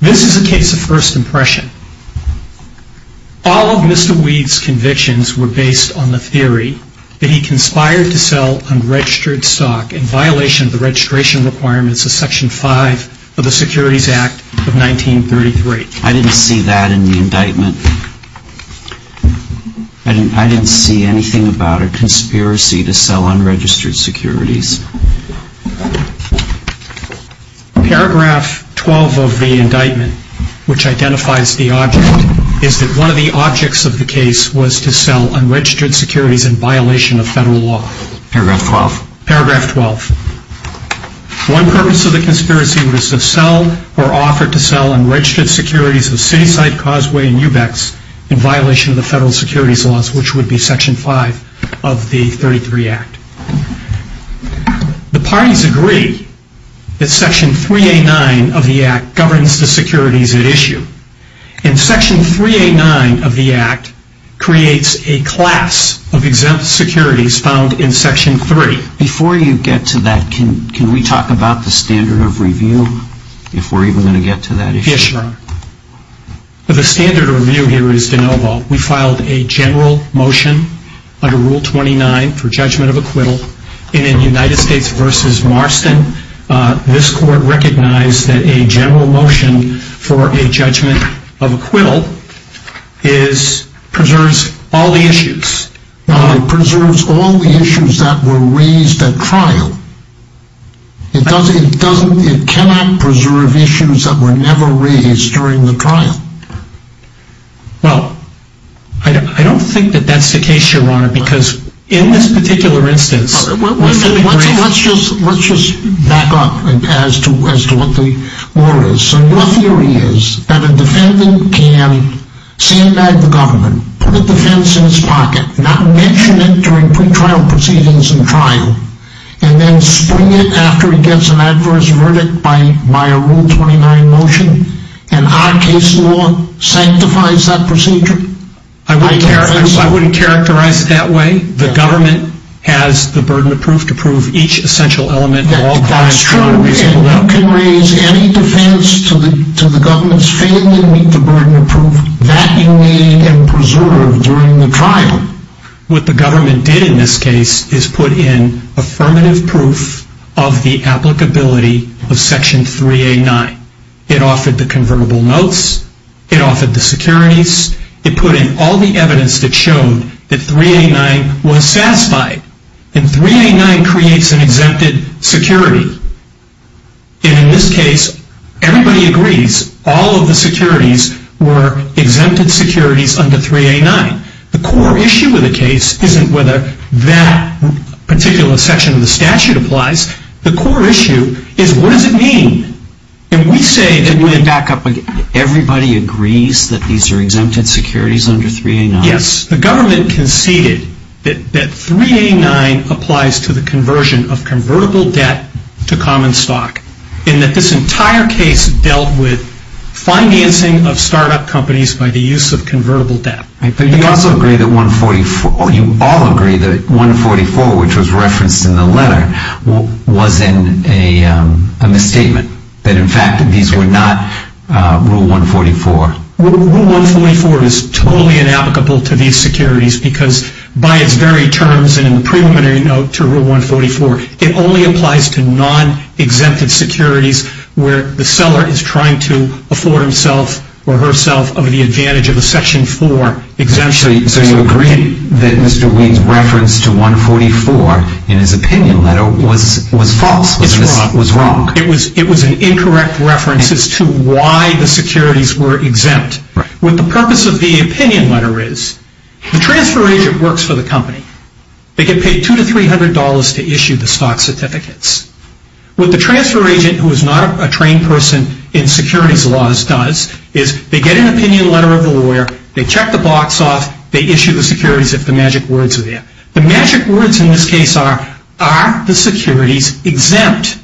This is a case of first impression. All of Mr. Weed's convictions were based on the theory that he conspired to sell unregistered stock in violation of the registration requirements of Section 5 of the Securities Act of 1933. I didn't see that in the indictment. I didn't see anything about a conspiracy to sell unregistered securities. Paragraph 12 of the indictment, which identifies the object, is that one of the objects of the case was to sell unregistered to sell unregistered securities of Cityside, Causeway, and Ubex in violation of the Federal Securities Laws, which would be Section 5 of the 1933 Act. The parties agree that Section 389 of the Act governs the securities at issue. And Section 389 of the Act creates a class of exempt securities found in Section 3. Before you get to that, can we talk about the standard of review? If we're even going to get to that issue. Yes, Your Honor. The standard of review here is de novo. We filed a general motion under Rule 29 for judgment of acquittal. And in United States v. Marston, this Court recognized that a general motion for a judgment of acquittal preserves all the issues. It preserves all the issues that were raised at trial. It does, it doesn't, it cannot preserve issues that were never raised during the trial. Well, I don't think that that's the case, Your Honor, because in this particular instance... Let's just back up as to what the order is. So your theory is that a defendant can stand by the government, put a defense in his pocket, not mention it during pre-trial proceedings and trial, and then spring it after he gets an adverse verdict by a Rule 29 motion, and our case law sanctifies that procedure? I wouldn't characterize it that way. The government has the burden of proof to prove each essential element of all crimes... That's true, and you can raise any defense to the government's failing to meet the burden of proof that you need and preserve during the trial. What the government did in this case is put in affirmative proof of the applicability of Section 3A9. It offered the convertible notes, it offered the securities, it put in all the evidence that showed that 3A9 was satisfied. And 3A9 creates an exempted security. And in this case, everybody agrees, all of the securities were exempted securities under 3A9. The core issue of the case isn't whether that particular section of the statute applies. The core issue is what does it mean? And we say... Everybody agrees that these are exempted securities under 3A9? Yes. The government conceded that 3A9 applies to the conversion of convertible debt to common stock, and that this entire case dealt with financing of startup companies by the use of convertible debt. But you also agree that 144... You all agree that 144, which was referenced in the letter, was a misstatement, that in fact these were not Rule 144? Rule 144 is totally inapplicable to these securities because by its very terms and in the preliminary note to Rule 144, it only applies to non-exempted securities where the seller is trying to afford himself or herself of the advantage of a Section 4 exemption. So you agree that Mr. Weed's reference to 144 in his opinion letter was false, was wrong? It was an incorrect reference as to why the securities were exempt. What the purpose of the opinion letter is, the transfer agent works for the company. They get paid $200 to $300 to issue the stock certificates. What the transfer agent, who is not a trained person in securities laws, does is they get an opinion letter of the lawyer, they check the box off, they issue the securities if the magic words are there. The magic words in this case are, are the securities exempt?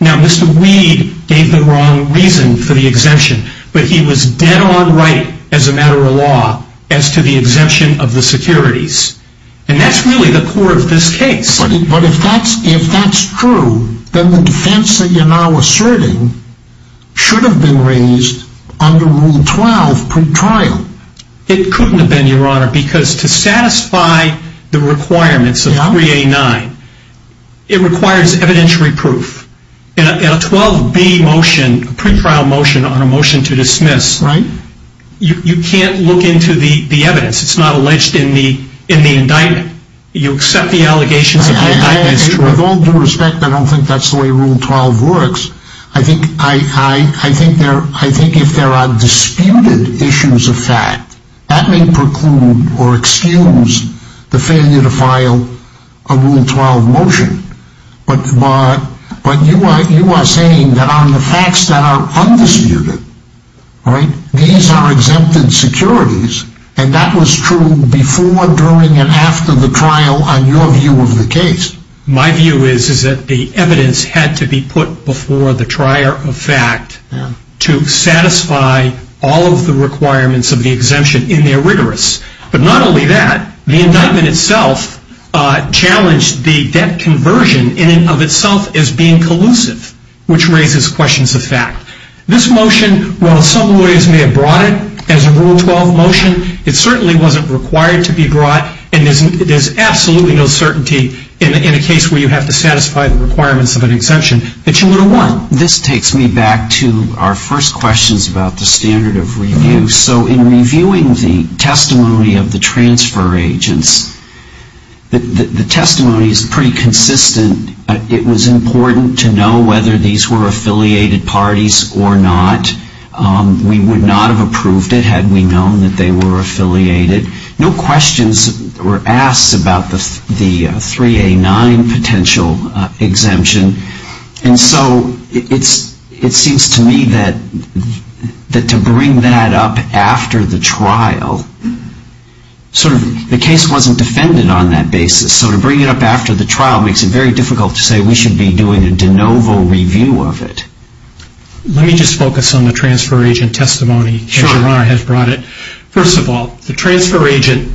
Now Mr. Weed gave the wrong reason for the exemption, but he was dead on right as a matter of law as to the exemption of the securities. And that's really the core of this case. But if that's true, then the defense that you're now asserting should have been raised under Rule 12 pre-trial. It couldn't have been, Your Honor, because to satisfy the requirements of 3A9, it requires evidentiary proof. In a 12B motion, a pre-trial motion on a motion to dismiss, you can't look into the evidence. It's not alleged in the indictment. You accept the allegations of the indictment. With all due respect, I don't think that's the way Rule 12 works. I think if there are disputed issues of fact, that may preclude or excuse the failure to file a Rule 12 motion. But you are saying that on the facts that are undisputed, these are exempted securities, and that was true before, during, and after the trial on your view of the case. My view is that the evidence had to be put before the trier of fact to satisfy all of the requirements of the exemption in their rigorous. But not only that, the indictment itself challenged the debt conversion in and of itself as being collusive, which raises questions of fact. This motion, while some lawyers may have brought it as a Rule 12 motion, it certainly wasn't required to be brought, and there's absolutely no certainty in a case where you have to satisfy the requirements of an exemption that you would have won. This takes me back to our first questions about the standard of review. So in reviewing the testimony of the transfer agents, the testimony is pretty consistent. It was important to know whether these were affiliated parties or not. We would not have approved it had we known that they were affiliated. No questions were asked about the 3A9 potential exemption. And so it seems to me that to bring that up after the trial, the case wasn't defended on that basis. So to bring it up after the trial makes it very difficult to say we should be doing a de novo review of it. Let me just focus on the transfer agent testimony as your Honor has brought it. First of all, the transfer agent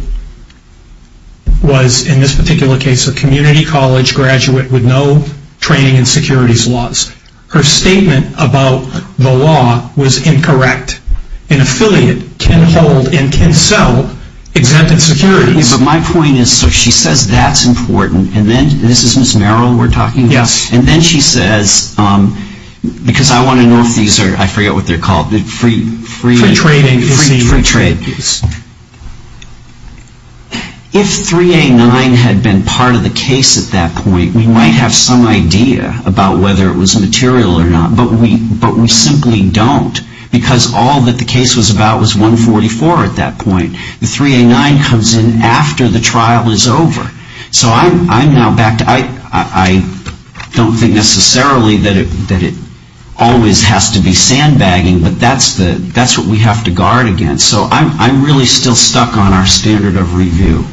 was, in this particular case, a community college graduate with no training in securities laws. Her statement about the law was incorrect. An affiliate can hold and can sell exempted securities. But my point is, so she says that's important, and then this is Ms. Merrill we're talking about? Yes. And then she says, because I want to know if these are, I forget what they're called, free trading. If 3A9 had been part of the case at that point, we might have some idea about whether it was material or not. But we simply don't. Because all that the case was about was 144 at that point. The 3A9 comes in after the trial is over. So I'm now back to, I don't think necessarily that it always has to be sandbagging, but that's what we have to guard against. So I'm really still stuck on our standard of review.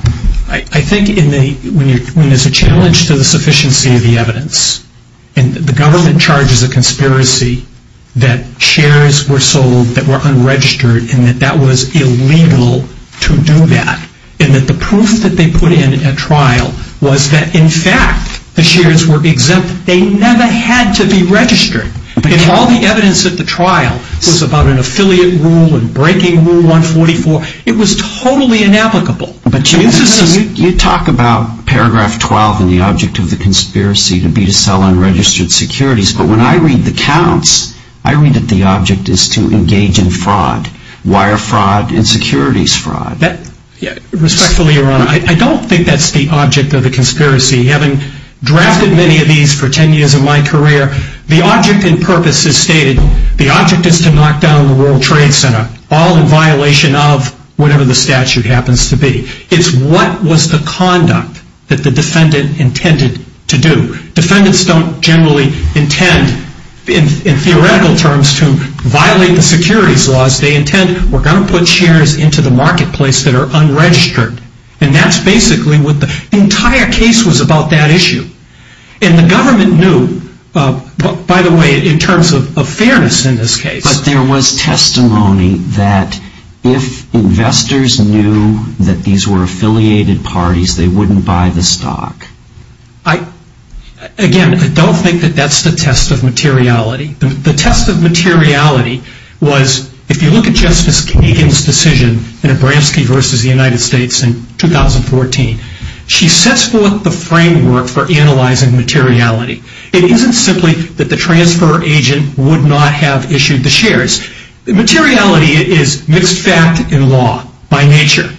I think when there's a challenge to the sufficiency of the evidence, and the government charges a conspiracy that shares were sold that were unregistered and that that was illegal to do that, and that the proof that they put in at trial was that, in fact, the conspiracy never had to be registered. If all the evidence at the trial was about an affiliate rule and breaking rule 144, it was totally inapplicable. But you talk about paragraph 12 and the object of the conspiracy to be to sell unregistered securities. But when I read the counts, I read that the object is to engage in fraud, wire fraud, and securities fraud. Respectfully, Your Honor, I don't think that's the object of the conspiracy. Having drafted many of these for 10 years of my career, the object in purpose is stated, the object is to knock down the World Trade Center, all in violation of whatever the statute happens to be. It's what was the conduct that the defendant intended to do. Defendants don't generally intend, in theoretical terms, to violate the securities laws. They intend, we're going to put shares into the marketplace that are unregistered. And that's basically what the entire case was about, that issue. And the government knew, by the way, in terms of fairness in this case. But there was testimony that if investors knew that these were affiliated parties, they wouldn't buy the stock. Again, I don't think that that's the test of materiality. The test of materiality was, if you look at Justice Kagan's decision in Abramski versus the United States in 2014, she sets forth the framework for analyzing materiality. It isn't simply that the transfer agent would not have issued the shares. Materiality is mixed fact in law, by nature.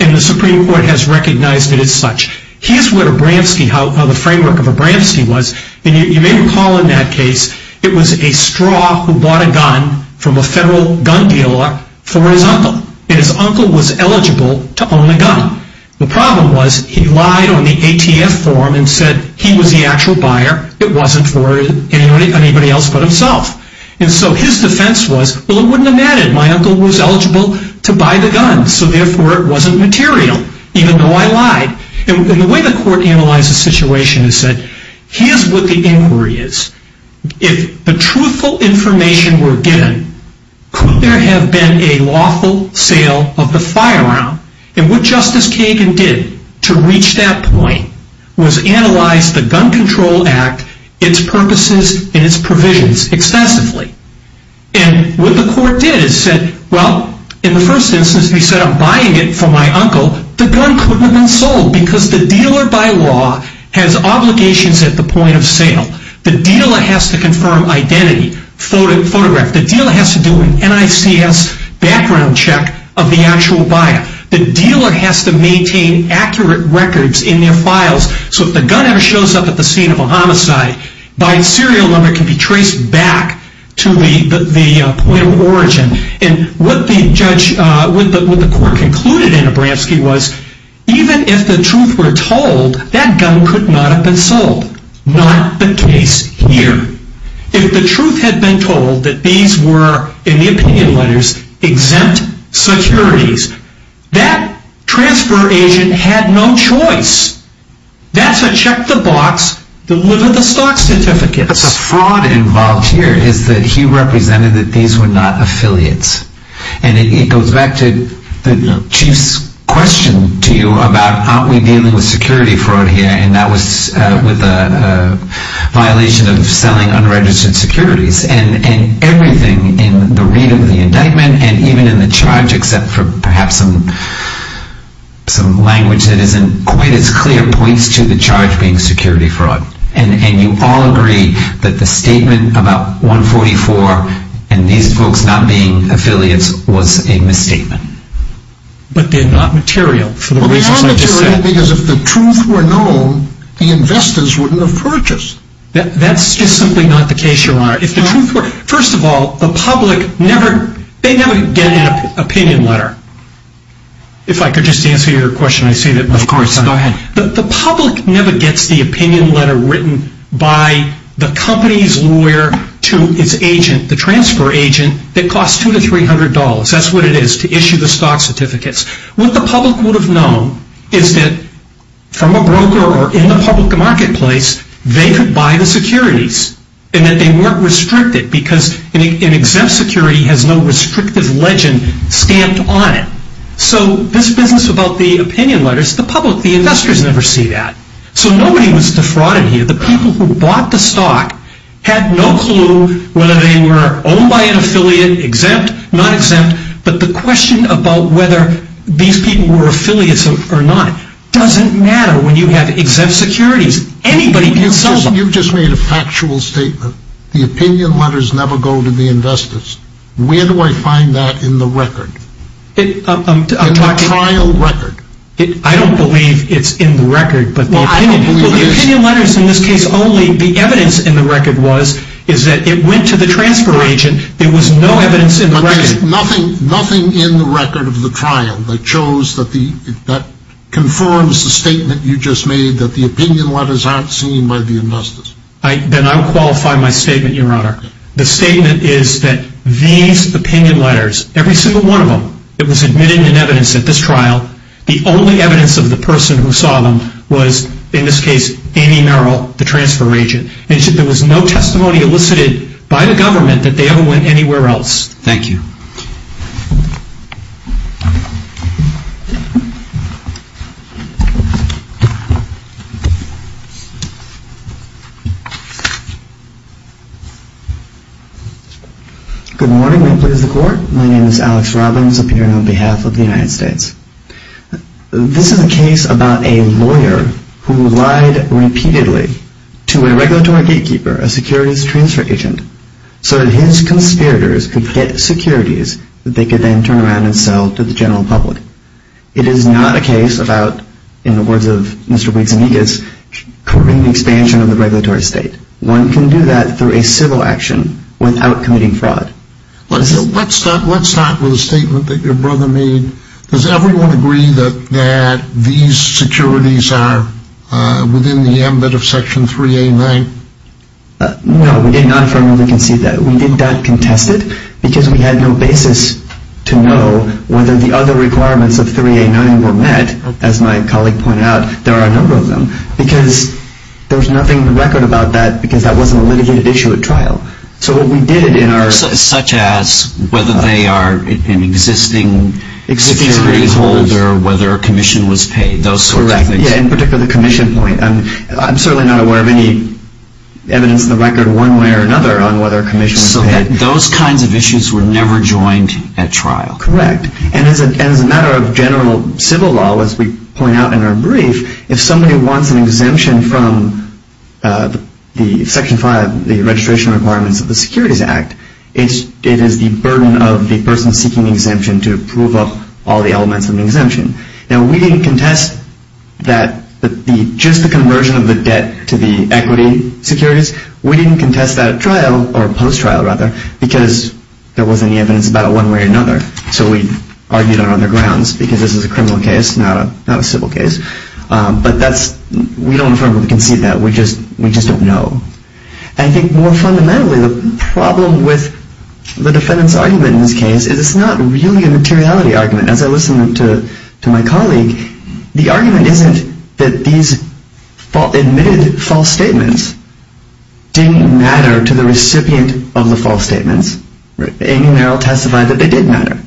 And the Supreme Court has recognized it as such. Here's what Abramski, how the framework of Abramski was. And you may recall in that case, it was a straw who bought a gun from a federal gun dealer for his uncle. And his uncle was eligible to own the gun. The problem was he lied on the ATF form and said he was the actual buyer. It wasn't for anybody else but himself. And so his defense was, well, it wouldn't have mattered. My uncle was eligible to buy the gun, so therefore it wasn't material, even though I lied. And the way the court analyzed the situation is that here's what the inquiry is. If the truthful information were given, could there have been a lawful sale of the firearm? And what Justice Kagan did to reach that point was analyze the Gun Control Act, its purposes, and its provisions extensively. And what the court did is said, well, in the first instance, he said, if I'm buying it for my uncle, the gun couldn't have been sold, because the dealer by law has obligations at the point of sale. The dealer has to confirm identity, photograph. The dealer has to do an NICS background check of the actual buyer. The dealer has to maintain accurate records in their files, so if the gun ever shows up at the scene of a homicide, buying serial number can be traced back to the point of origin. And what the court concluded in Abramski was, even if the truth were told, that gun could not have been sold. Not the case here. If the truth had been told that these were, in the opinion letters, exempt securities, that transfer agent had no choice. That's a check the box, deliver the stock certificates. The fraud involved here is that he represented that these were not affiliates. And it goes back to the chief's question to you about, aren't we dealing with security fraud here, and that was with a violation of selling unregistered securities. And everything in the read of the indictment, and even in the charge, except for perhaps some language that isn't quite as clear, points to the charge being security fraud. And you all agree that the statement about 144, and these folks not being affiliates, was a misstatement. But they're not material for the reasons I just said. Well, they are material because if the truth were known, the investors wouldn't have purchased. That's just simply not the case, Your Honor. If the truth were, first of all, the public never, they never get an opinion letter. If I could just answer your question, I see that. Of course, go ahead. The public never gets the opinion letter written by the company's lawyer to its agent, the transfer agent, that costs $200 to $300. That's what it is, to issue the stock certificates. What the public would have known is that from a broker or in the public marketplace, they could buy the securities and that they weren't restricted because an exempt security has no restrictive legend stamped on it. So this business about the opinion letters, the public, the investors never see that. So nobody was defrauded here. The people who bought the stock had no clue whether they were owned by an affiliate, exempt, not exempt, but the question about whether these people were affiliates or not doesn't matter when you have exempt securities. Anybody can sell them. You've just made a factual statement. The opinion letters never go to the investors. Where do I find that in the record? In the trial record. I don't believe it's in the record, but the opinion letters in this case only, the evidence in the record was that it went to the transfer agent. There was no evidence in the record. Nothing in the record of the trial that confirms the statement you just made that the opinion letters aren't seen by the investors. Then I'll qualify my statement, Your Honor. The statement is that these opinion letters, every single one of them, it was admitted in evidence at this trial. The only evidence of the person who saw them was, in this case, Amy Merrill, the transfer agent. And there was no testimony elicited by the government that they ever went anywhere else. Thank you. Good morning. May it please the Court. My name is Alex Robbins, appearing on behalf of the United States. This is a case about a lawyer who lied repeatedly to a regulatory gatekeeper, a securities transfer agent, so that his conspirators could get securities that they could then turn around and sell to the general public. It is not a case about, in the words of Mr. Wiggs and Higgins, curbing the expansion of the regulatory state. One can do that through a civil action without committing fraud. Let's start with a statement that your brother made. Does everyone agree that these securities are within the ambit of Section 3A9? No, we did not firmly concede that. We did not contest it because we had no basis to know whether the other requirements of 3A9 were met. As my colleague pointed out, there are a number of them. There was nothing in the record about that because that wasn't a litigated issue at trial. Such as whether they are an existing security holder, whether a commission was paid, those sorts of things. In particular, the commission point. I'm certainly not aware of any evidence in the record one way or another on whether a commission was paid. Those kinds of issues were never joined at trial. Correct. As a matter of general civil law, as we point out in our brief, if somebody wants an exemption from Section 5, the registration requirements of the Securities Act, it is the burden of the person seeking exemption to prove up all the elements of the exemption. We didn't contest just the conversion of the debt to the equity securities. We didn't contest that at trial, or post-trial rather, because there wasn't any evidence about it one way or another. So we argued on other grounds because this is a criminal case, not a civil case. But we don't affirm or concede that. We just don't know. I think more fundamentally, the problem with the defendant's argument in this case is it's not really a materiality argument. As I listened to my colleague, the argument isn't that these admitted false statements didn't matter to the recipient of the false statements. Amy Merrill testified that they did matter.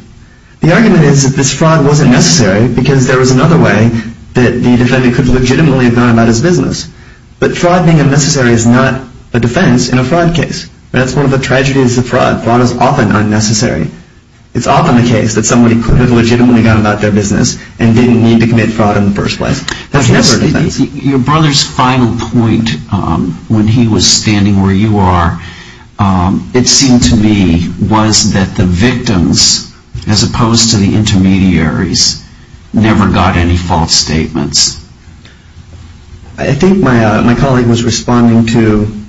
The argument is that this fraud wasn't necessary because there was another way that the defendant could legitimately have gone about his business. But fraud being unnecessary is not a defense in a fraud case. That's one of the tragedies of fraud. Fraud is often unnecessary. It's often the case that somebody could have legitimately gone about their business and didn't need to commit fraud in the first place. That's never a defense. Your brother's final point when he was standing where you are, it seemed to me was that the victims, as opposed to the intermediaries, never got any false statements. I think my colleague was responding to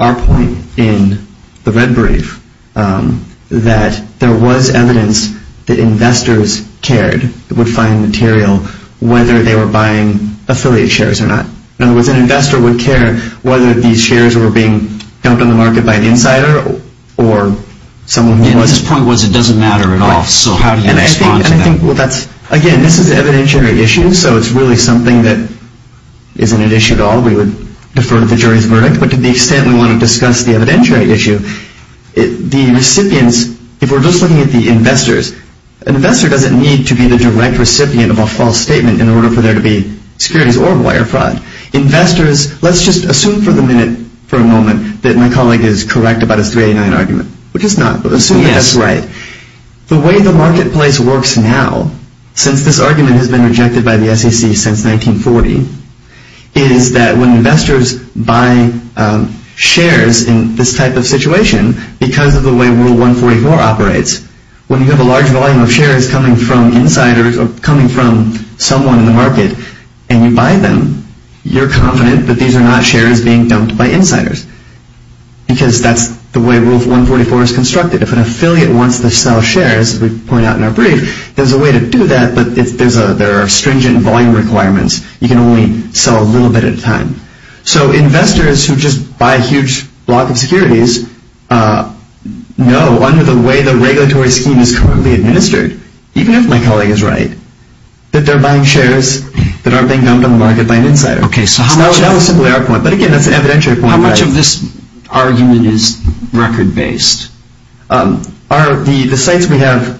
our point in the red brief that there was evidence that investors cared, would find material, whether they were buying affiliate shares or not. In other words, an investor would care whether these shares were being dumped on the market by an insider or someone who wasn't. His point was it doesn't matter at all. Again, this is an evidentiary issue, so it's really something that isn't an issue at all. We would defer to the jury's verdict. But to the extent we want to discuss the evidentiary issue, the recipients, if we're just looking at the investors, an investor doesn't need to be the direct recipient of a false statement in order for there to be securities or wire fraud. Investors, let's just assume for the minute, for a moment, that my colleague is correct about his 389 argument, which is not. Assume that that's right. The way the marketplace works now, since this argument has been rejected by the SEC since 1940, is that when investors buy shares in this type of situation, because of the way Rule 144 operates, when you have a large volume of shares coming from insiders or coming from someone in the market and you buy them, you're confident that these are not shares being dumped by insiders, because that's the way Rule 144 is constructed. If an affiliate wants to sell shares, as we point out in our brief, there's a way to do that, but there are stringent volume requirements. You can only sell a little bit at a time. So investors who just buy a huge block of securities know, under the way the regulatory scheme is currently administered, even if my colleague is right, that they're buying shares that aren't being dumped on the market by an insider. So that was simply our point, but again, that's an evidentiary point. How much of this argument is record-based? The sites we have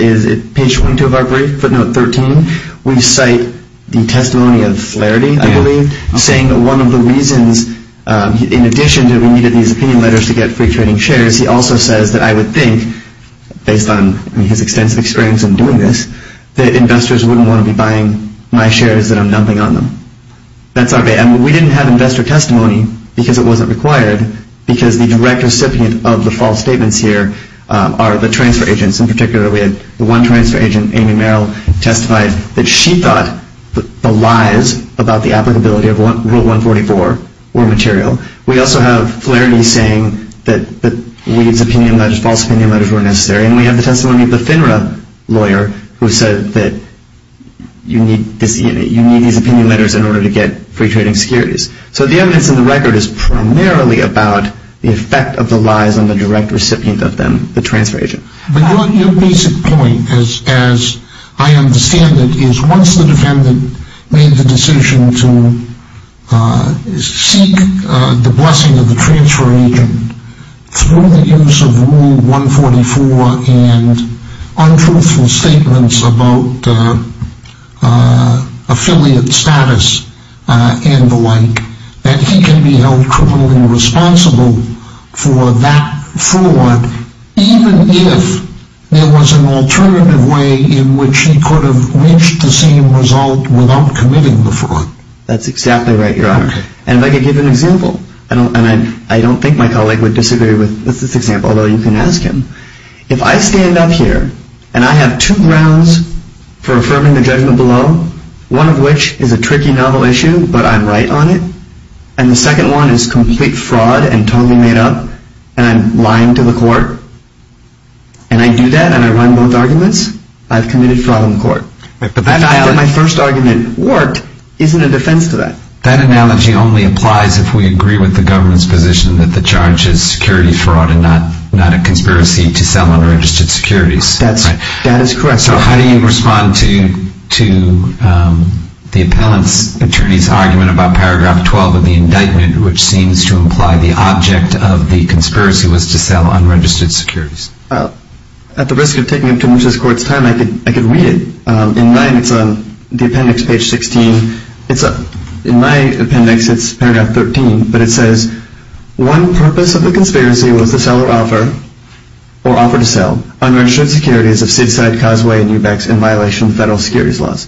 is at page 22 of our brief, footnote 13. We cite the testimony of Flaherty, I believe, saying that one of the reasons, in addition to we needed these opinion letters to get free trading shares, he also says that I would think, based on his extensive experience in doing this, that investors wouldn't want to be buying my shares that I'm dumping on them. We didn't have investor testimony because it wasn't required, because the direct recipient of the false statements here are the transfer agents. In particular, we had the one transfer agent, Amy Merrill, testify that she thought the lies about the applicability of Rule 144 were material. We also have Flaherty saying that we needed opinion letters, false opinion letters were necessary, and we have the testimony of the FINRA lawyer who said that you need these opinion letters in order to get free trading securities. So the evidence in the record is primarily about the effect of the lies on the direct recipient of them, the transfer agent. But your basic point, as I understand it, is once the defendant made the decision to seek the blessing of the transfer agent, through the use of Rule 144 and untruthful statements about affiliate status and the like, that he can be held criminally responsible for that fraud, even if there was an alternative way in which he could have reached the same result without committing the fraud. That's exactly right, Your Honor. And if I could give an example, and I don't think my colleague would disagree with this example, although you can ask him. If I stand up here and I have two grounds for affirming the judgment below, one of which is a tricky novel issue, but I'm right on it, and the second one is complete fraud and totally made up, and I'm lying to the court, and I do that and I run both arguments, I've committed fraud on the court. The fact that my first argument worked isn't a defense to that. That analogy only applies if we agree with the government's position that the charge is security fraud and not a conspiracy to sell unregistered securities. That is correct, Your Honor. So how do you respond to the appellant's attorney's argument about paragraph 12 of the indictment, which seems to imply the object of the conspiracy was to sell unregistered securities? At the risk of taking up too much of this court's time, I could read it. In mine, it's on the appendix, page 16. In my appendix, it's paragraph 13, but it says, One purpose of the conspiracy was to sell or offer, or offer to sell, unregistered securities of Seaside, Causeway, and Ubex in violation of federal securities laws.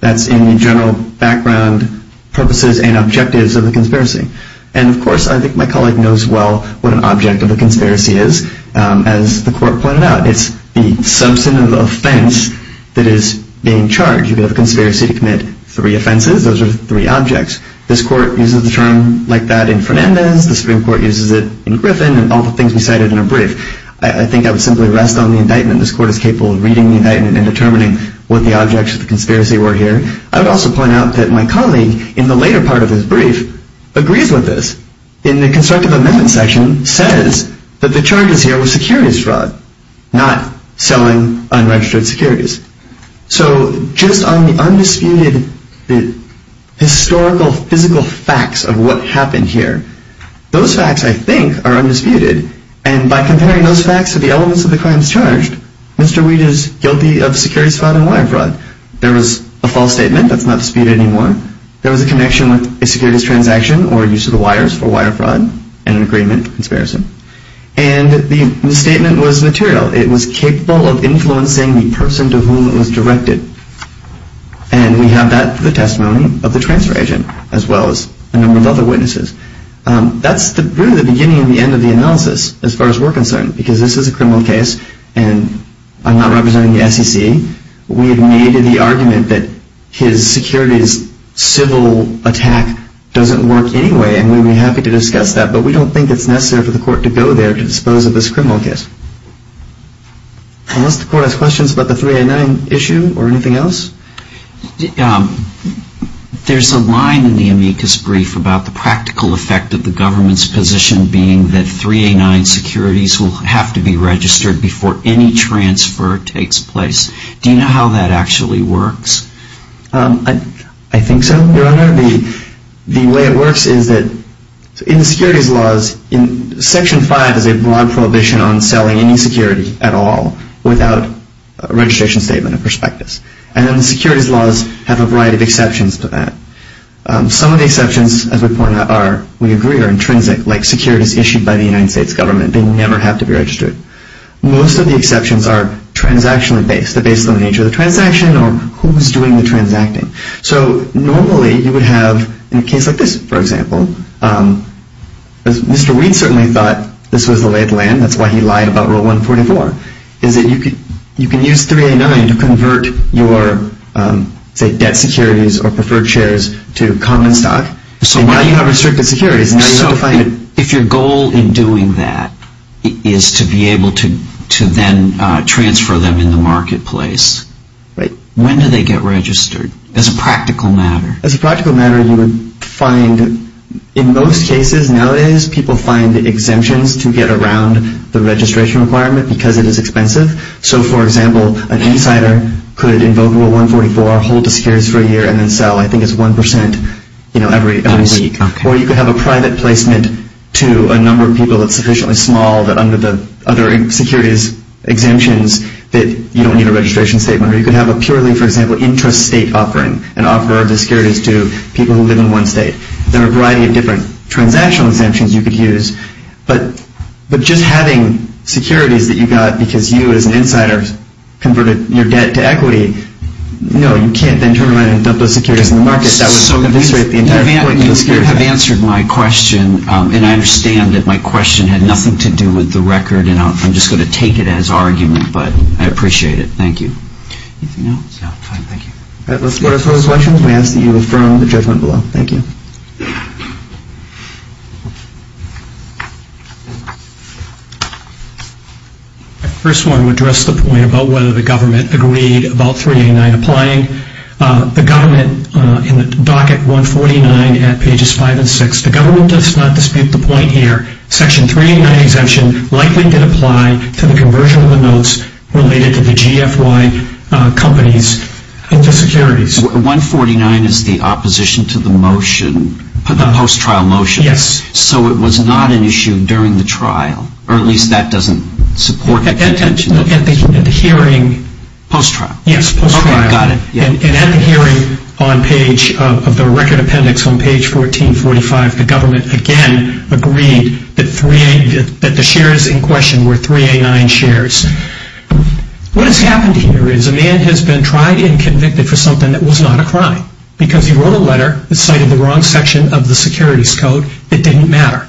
That's in the general background purposes and objectives of the conspiracy. And, of course, I think my colleague knows well what an object of a conspiracy is. As the court pointed out, it's the substantive offense that is being charged. You could have a conspiracy to commit three offenses. Those are three objects. This court uses the term like that in Fernandez, the Supreme Court uses it in Griffin, and all the things we cited in our brief. I think I would simply rest on the indictment. This court is capable of reading the indictment and determining what the objects of the conspiracy were here. I would also point out that my colleague, in the later part of his brief, agrees with this. In the constructive amendment section, it says that the charges here were securities fraud, not selling unregistered securities. So just on the undisputed historical, physical facts of what happened here, those facts, I think, are undisputed. And by comparing those facts to the elements of the crimes charged, Mr. Weed is guilty of securities fraud and wire fraud. There was a false statement that's not disputed anymore. There was a connection with a securities transaction or use of the wires for wire fraud and an agreement conspiracy. And the statement was material. It was capable of influencing the person to whom it was directed. And we have that for the testimony of the transfer agent, as well as a number of other witnesses. That's really the beginning and the end of the analysis, as far as we're concerned, because this is a criminal case, and I'm not representing the SEC. We have made the argument that his securities civil attack doesn't work anyway, and we would be happy to discuss that, but we don't think it's necessary for the court to go there to dispose of this criminal case. Unless the court has questions about the 3A9 issue or anything else? There's a line in the amicus brief about the practical effect of the government's position being that 3A9 securities will have to be registered before any transfer takes place. Do you know how that actually works? I think so, Your Honor. The way it works is that in the securities laws, Section 5 is a broad prohibition on selling any security at all without a registration statement of prospectus. And then the securities laws have a variety of exceptions to that. Some of the exceptions, as we agree, are intrinsic, like securities issued by the United States government. They never have to be registered. Most of the exceptions are transactionally based. They're based on the nature of the transaction or who's doing the transacting. So normally you would have, in a case like this, for example, as Mr. Reid certainly thought this was the lay of the land, that's why he lied about Rule 144, is that you can use 3A9 to convert your, say, debt securities or preferred shares to common stock. So now you have restricted securities. If your goal in doing that is to be able to then transfer them in the marketplace, when do they get registered as a practical matter? As a practical matter, you would find, in most cases nowadays, people find exemptions to get around the registration requirement because it is expensive. So, for example, an insider could invoke Rule 144, hold the securities for a year, and then sell, I think it's 1%, you know, every week. Or you could have a private placement to a number of people that's sufficiently small that under the other securities exemptions that you don't need a registration statement. Or you could have a purely, for example, intrastate offering, an offer of the securities to people who live in one state. There are a variety of different transactional exemptions you could use, but just having securities that you got because you as an insider converted your debt to equity, no, you can't then turn around and dump those securities in the market. That would eviscerate the entire point of the security. You have answered my question, and I understand that my question had nothing to do with the record, and I'm just going to take it as argument, but I appreciate it. Thank you. Anything else? No, thank you. All right, let's go to those questions. We ask that you affirm the judgment below. Thank you. The first one would address the point about whether the government agreed about 389 applying. The government in the docket 149 at pages 5 and 6. The government does not dispute the point here. Section 389 exemption likely did apply to the conversion of the notes related to the GFY companies into securities. 149 is the opposition to the motion, the post-trial motion. Yes. So it was not an issue during the trial, or at least that doesn't support it. At the hearing. Post-trial. Yes, post-trial. Okay, got it. And at the hearing of the record appendix on page 1445, the government again agreed that the shares in question were 389 shares. What has happened here is a man has been tried and convicted for something that was not a crime, because he wrote a letter that cited the wrong section of the securities code that didn't matter.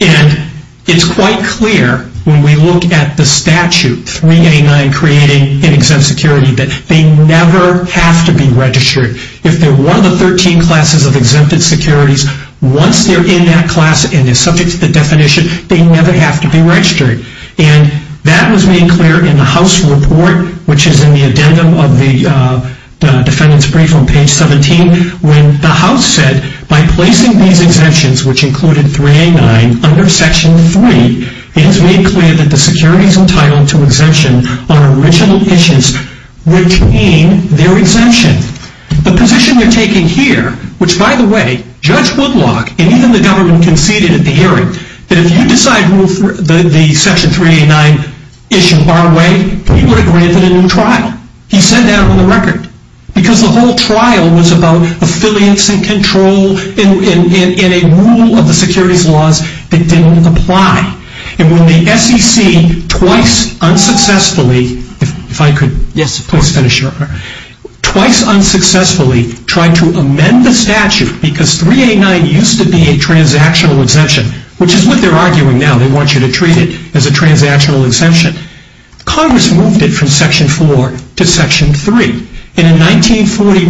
And it's quite clear when we look at the statute, 389 creating an exempt security, that they never have to be registered. If they're one of the 13 classes of exempted securities, once they're in that class and they're subject to the definition, they never have to be registered. And that was made clear in the House report, which is in the addendum of the defendant's brief on page 17, when the House said, by placing these exemptions, which included 389, under section 3, it has made clear that the securities entitled to exemption on original issues retain their exemption. The position they're taking here, which by the way, Judge Woodlock and even the government conceded at the hearing, that if you decide to move the section 389 issue our way, you would have granted a new trial. He said that on the record. Because the whole trial was about affiliates and control and a rule of the securities laws that didn't apply. And when the SEC twice unsuccessfully tried to amend the statute, because 389 used to be a transactional exemption, which is what they're arguing now, they want you to treat it as a transactional exemption, Congress moved it from section 4 to section 3. And in 1941,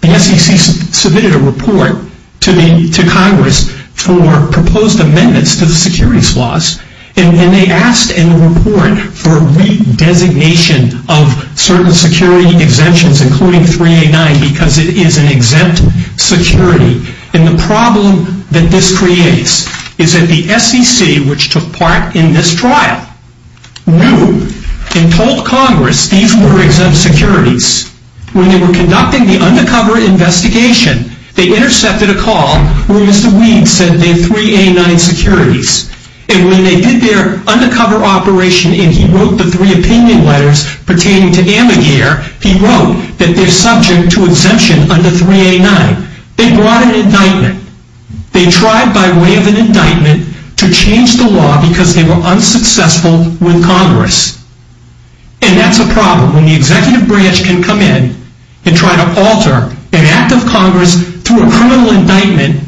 the SEC submitted a report to Congress for proposed amendments to the securities laws. And they asked in the report for a redesignation of certain security exemptions, including 389, because it is an exempt security. And the problem that this creates is that the SEC, which took part in this trial, knew and told Congress these were exempt securities. When they were conducting the undercover investigation, they intercepted a call where Mr. Weed said they're 389 securities. And when they did their undercover operation and he wrote the three opinion letters pertaining to Amigare, he wrote that they're subject to exemption under 389. They brought an indictment. They tried by way of an indictment to change the law because they were unsuccessful with Congress. And that's a problem. When the executive branch can come in and try to alter an act of Congress through a criminal indictment,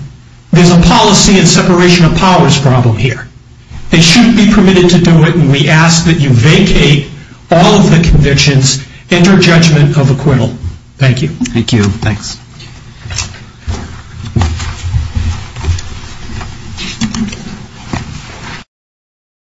there's a policy and separation of powers problem here. They shouldn't be permitted to do it. And we ask that you vacate all of the convictions and your judgment of acquittal. Thank you. Thanks.